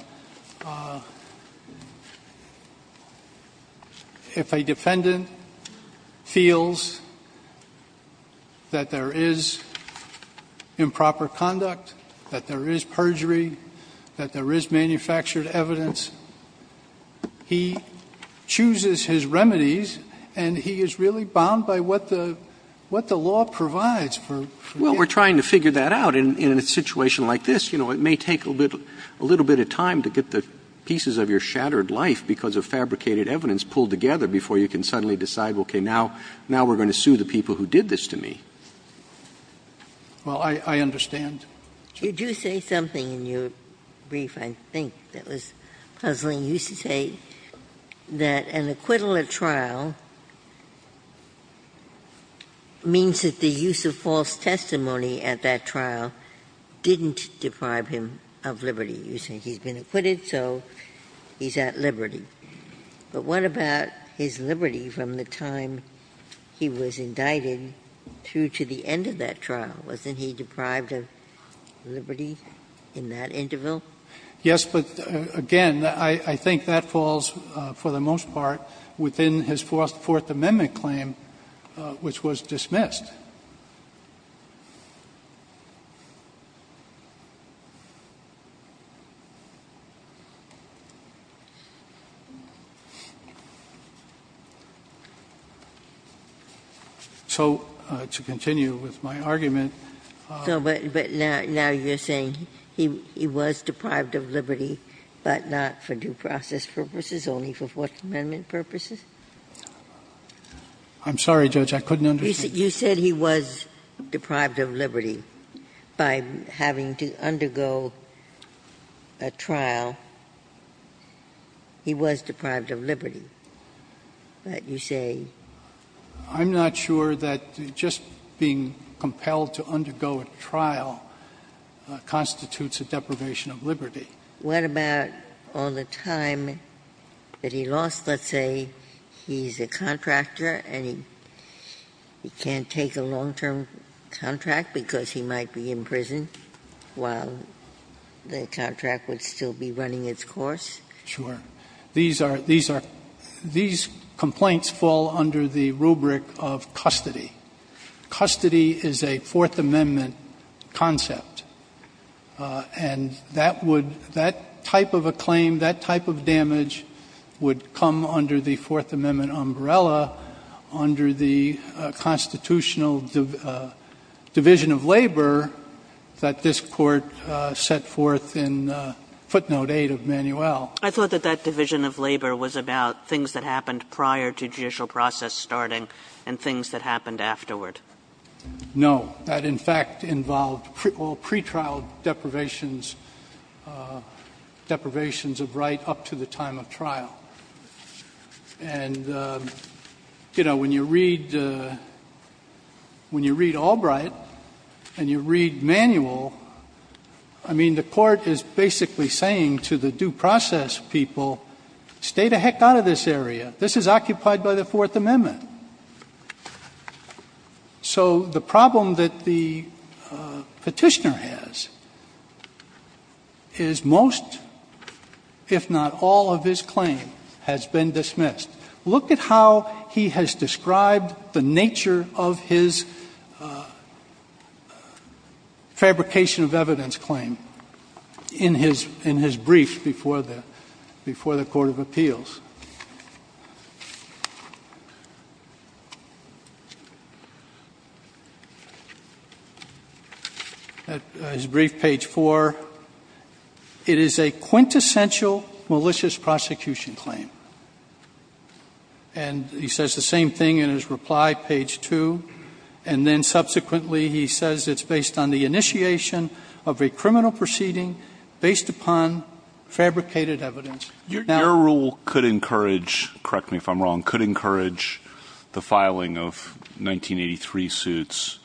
if a defendant feels that there is improper conduct, that there is perjury, that there is manufactured evidence, he chooses his remedies, and he is really bound by what the law provides for him. Well, we're trying to figure that out. In a situation like this, you know, it may take a little bit of time to get the pieces of your shattered life because of fabricated evidence pulled together before you can suddenly decide, okay, now we're going to sue the people who did this to me. Well, I understand. You do say something in your brief, I think, that was puzzling. You used to say that an acquittal at trial means that the use of false testimony at that trial didn't deprive him of liberty. You say he's been acquitted, so he's at liberty. But what about his liberty from the time he was indicted through to the end of that trial? Wasn't he deprived of liberty in that interval? Yes, but, again, I think that falls, for the most part, within his Fourth Amendment claim, which was dismissed. So to continue with my argument. But now you're saying he was deprived of liberty, but not for due process purposes, only for Fourth Amendment purposes? I'm sorry, Judge, I couldn't understand. You said he was deprived of liberty by having to undergo a trial. He was deprived of liberty, but you say. I'm not sure that just being compelled to undergo a trial constitutes a deprivation of liberty. What about all the time that he lost? Let's say he's a contractor and he can't take a long-term contract because he might be in prison while the contract would still be running its course. Sure. These complaints fall under the rubric of custody. Custody is a Fourth Amendment concept. And that type of a claim, that type of damage would come under the Fourth Amendment umbrella, under the constitutional division of labor that this Court set forth in footnote 8 of Manuel. I thought that that division of labor was about things that happened prior to judicial process starting and things that happened afterward. No. That, in fact, involved pre-trial deprivations of right up to the time of trial. And, you know, when you read Albright and you read Manuel, I mean, the Court is basically saying to the due process people, stay the heck out of this area. This is occupied by the Fourth Amendment. So the problem that the Petitioner has is most, if not all, of his claim has been dismissed. Look at how he has described the nature of his fabrication of evidence claim in his brief before the Court of Appeals. At his brief, page 4, it is a quintessential malicious prosecution claim. And he says the same thing in his reply, page 2. And then subsequently he says it's based on the initiation of a criminal proceeding based upon fabricated evidence. Your rule could encourage, correct me if I'm wrong, could encourage the filing of 1983 suits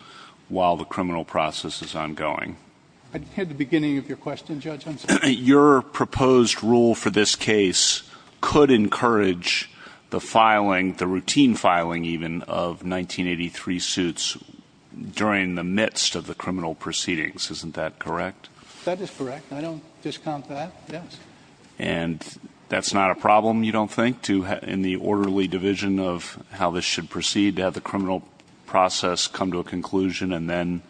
while the criminal process is ongoing. At the beginning of your question, Judge, I'm sorry. Your proposed rule for this case could encourage the filing, the routine filing even, of 1983 suits during the midst of the criminal proceedings. Isn't that correct? That is correct. I don't discount that, yes. And that's not a problem, you don't think, in the orderly division of how this should proceed, to have the criminal process come to a conclusion and then,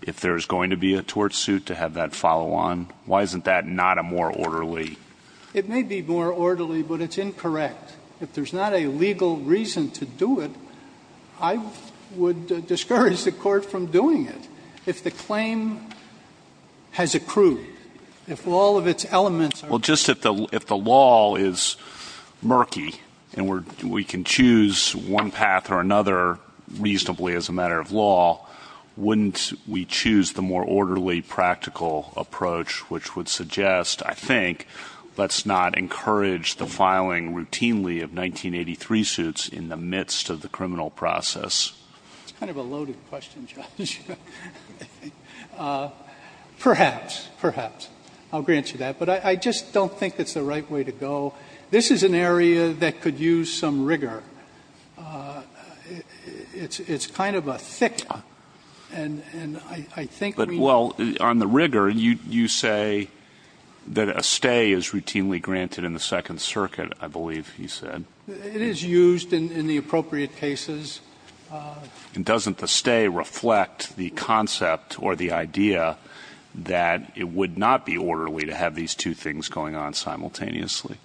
if there's going to be a tort suit, to have that follow on? Why isn't that not a more orderly? It may be more orderly, but it's incorrect. If there's not a legal reason to do it, I would discourage the Court from doing it. If the claim has accrued, if all of its elements are... Well, just if the law is murky and we can choose one path or another reasonably as a matter of law, wouldn't we choose the more orderly, practical approach, which would suggest, I think, let's not encourage the filing routinely of 1983 suits in the midst of the criminal process? It's kind of a loaded question, Judge. Perhaps. Perhaps. I'll grant you that. But I just don't think it's the right way to go. This is an area that could use some rigor. It's kind of a thick... But, well, on the rigor, you say that a stay is routinely granted in the Second Circuit, I believe he said. It is used in the appropriate cases. And doesn't the stay reflect the concept or the idea that it would not be orderly to have these two things going on simultaneously?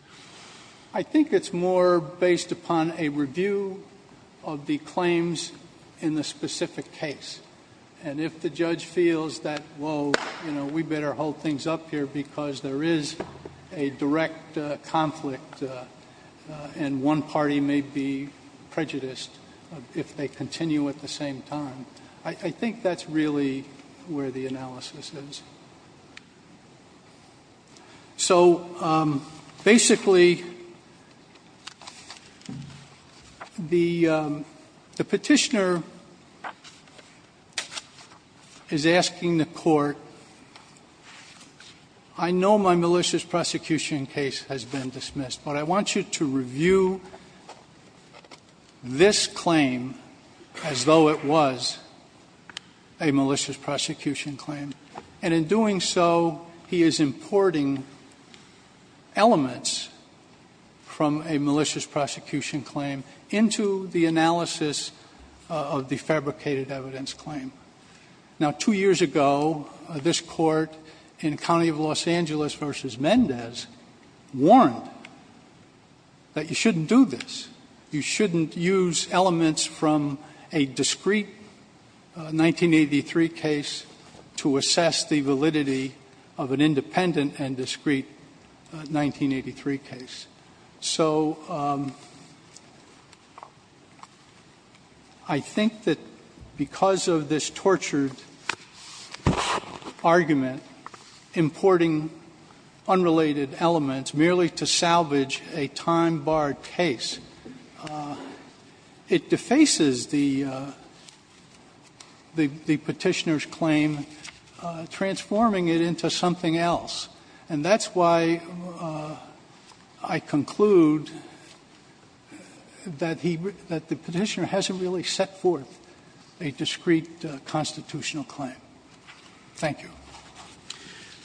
I think it's more based upon a review of the claims in the specific case. And if the judge feels that, whoa, you know, we better hold things up here because there is a direct conflict and one party may be prejudiced if they continue at the same time. I think that's really where the analysis is. So, basically, the petitioner is asking the court, I know my malicious prosecution case has been dismissed, but I want you to review this claim as though it was a malicious prosecution claim. And in doing so, he is importing elements from a malicious prosecution claim into the analysis of the fabricated evidence claim. Now, two years ago, this court in County of Los Angeles versus Mendez warned that you shouldn't do this. You shouldn't use elements from a discrete 1983 case to assess the validity of an independent and discrete 1983 case. So, I think that because of this tortured argument, importing unrelated elements merely to salvage a time-barred case, it defaces the petitioner's claim, transforming it into something else. And that's why I conclude that the petitioner hasn't really set forth a discrete constitutional claim. Thank you.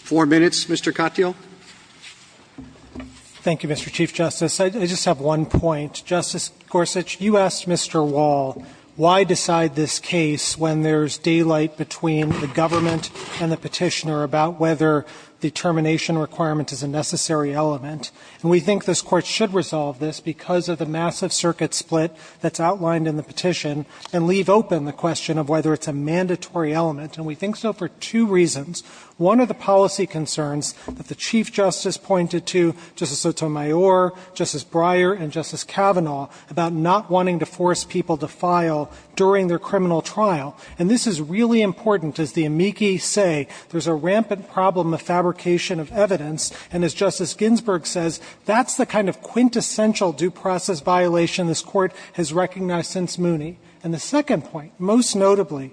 Four minutes, Mr. Katyal. Thank you, Mr. Chief Justice. I just have one point. Justice Gorsuch, you asked Mr. Wall why decide this case when there's daylight between the government and the petitioner about whether the termination requirement is a necessary element. And we think this court should resolve this because of the massive circuit split that's outlined in the petition and leave open the question of whether it's a mandatory element. And we think so for two reasons. One of the policy concerns that the Chief Justice pointed to, Justice Sotomayor, Justice Breyer, and Justice Kavanaugh, about not wanting to force people to file during their criminal trial. And this is really important. As the amici say, there's a rampant problem of fabrication of evidence. And as Justice Ginsburg says, that's the kind of quintessential due process violation this Court has recognized since Mooney. And the second point, most notably,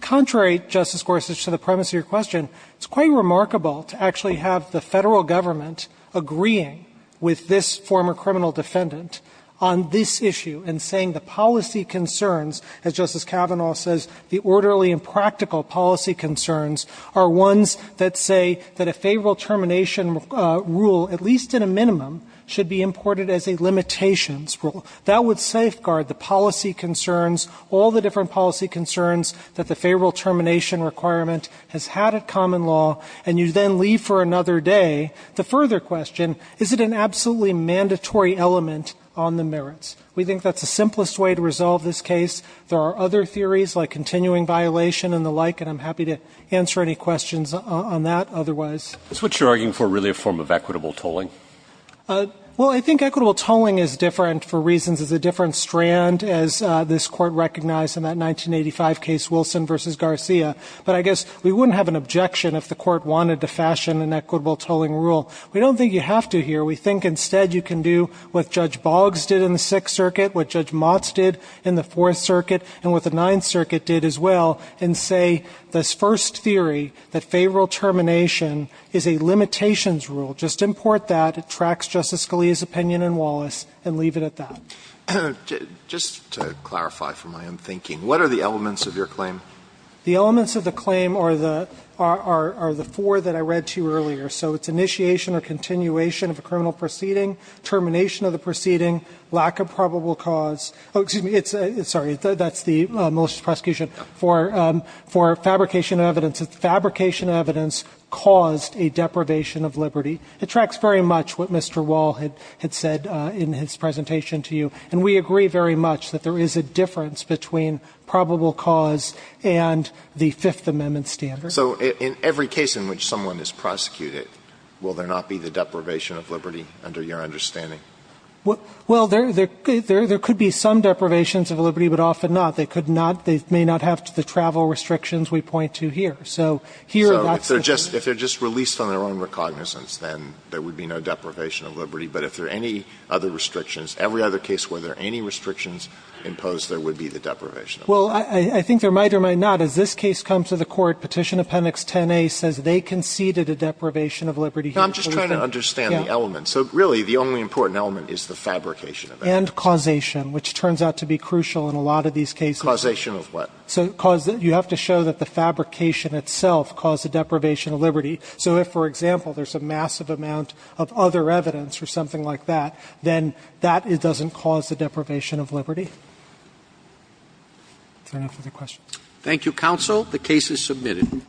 contrary, Justice Gorsuch, to the premise of your question, it's quite remarkable to actually have the Federal Government agreeing with this former criminal defendant on this issue and saying the policy concerns, as Justice Kavanaugh says, the orderly and practical policy concerns are ones that say that a favorable termination rule, at least in a minimum, should be imported as a limitations rule. That would safeguard the policy concerns, all the different policy concerns that the favorable termination requirement has had at common law. And you then leave for another day. The further question, is it an absolutely mandatory element on the merits? We think that's the simplest way to resolve this case. There are other theories, like continuing violation and the like, and I'm happy to answer any questions on that otherwise. Is what you're arguing for really a form of equitable tolling? Well, I think equitable tolling is different for reasons. It's a different strand, as this Court recognized in that 1985 case, Wilson v. Garcia. But I guess we wouldn't have an objection if the Court wanted to fashion an equitable tolling rule. We don't think you have to here. We think instead you can do what Judge Boggs did in the Sixth Circuit, what Judge Motz did in the Fourth Circuit, and what the Ninth Circuit did as well, and say this first theory, that favorable termination is a limitations rule. Just import that. It tracks Justice Scalia's opinion in Wallace, and leave it at that. Just to clarify from what I'm thinking, what are the elements of your claim? The elements of the claim are the four that I read to you earlier. So it's initiation or continuation of a criminal proceeding, termination of the proceeding, lack of probable cause. Oh, excuse me. Sorry. That's the malicious prosecution for fabrication of evidence. Fabrication of evidence caused a deprivation of liberty. It tracks very much what Mr. Wall had said in his presentation to you. And we agree very much that there is a difference between probable cause and the Fifth Amendment standard. So in every case in which someone is prosecuted, will there not be the deprivation of liberty, under your understanding? Well, there could be some deprivations of liberty, but often not. They could not. They may not have the travel restrictions we point to here. So here, that's the thing. So if they're just released on their own recognizance, then there would be no deprivation of liberty. But if there are any other restrictions, every other case where there are any restrictions imposed, there would be the deprivation of liberty. Well, I think there might or might not. As this case comes to the Court, Petition Appendix 10A says they conceded a deprivation of liberty here. So really, the only important element is the fabrication of evidence. And causation, which turns out to be crucial in a lot of these cases. Causation of what? So you have to show that the fabrication itself caused the deprivation of liberty. So if, for example, there's a massive amount of other evidence or something like that, then that doesn't cause the deprivation of liberty. Is there enough for the questions? Thank you, counsel. The case is submitted.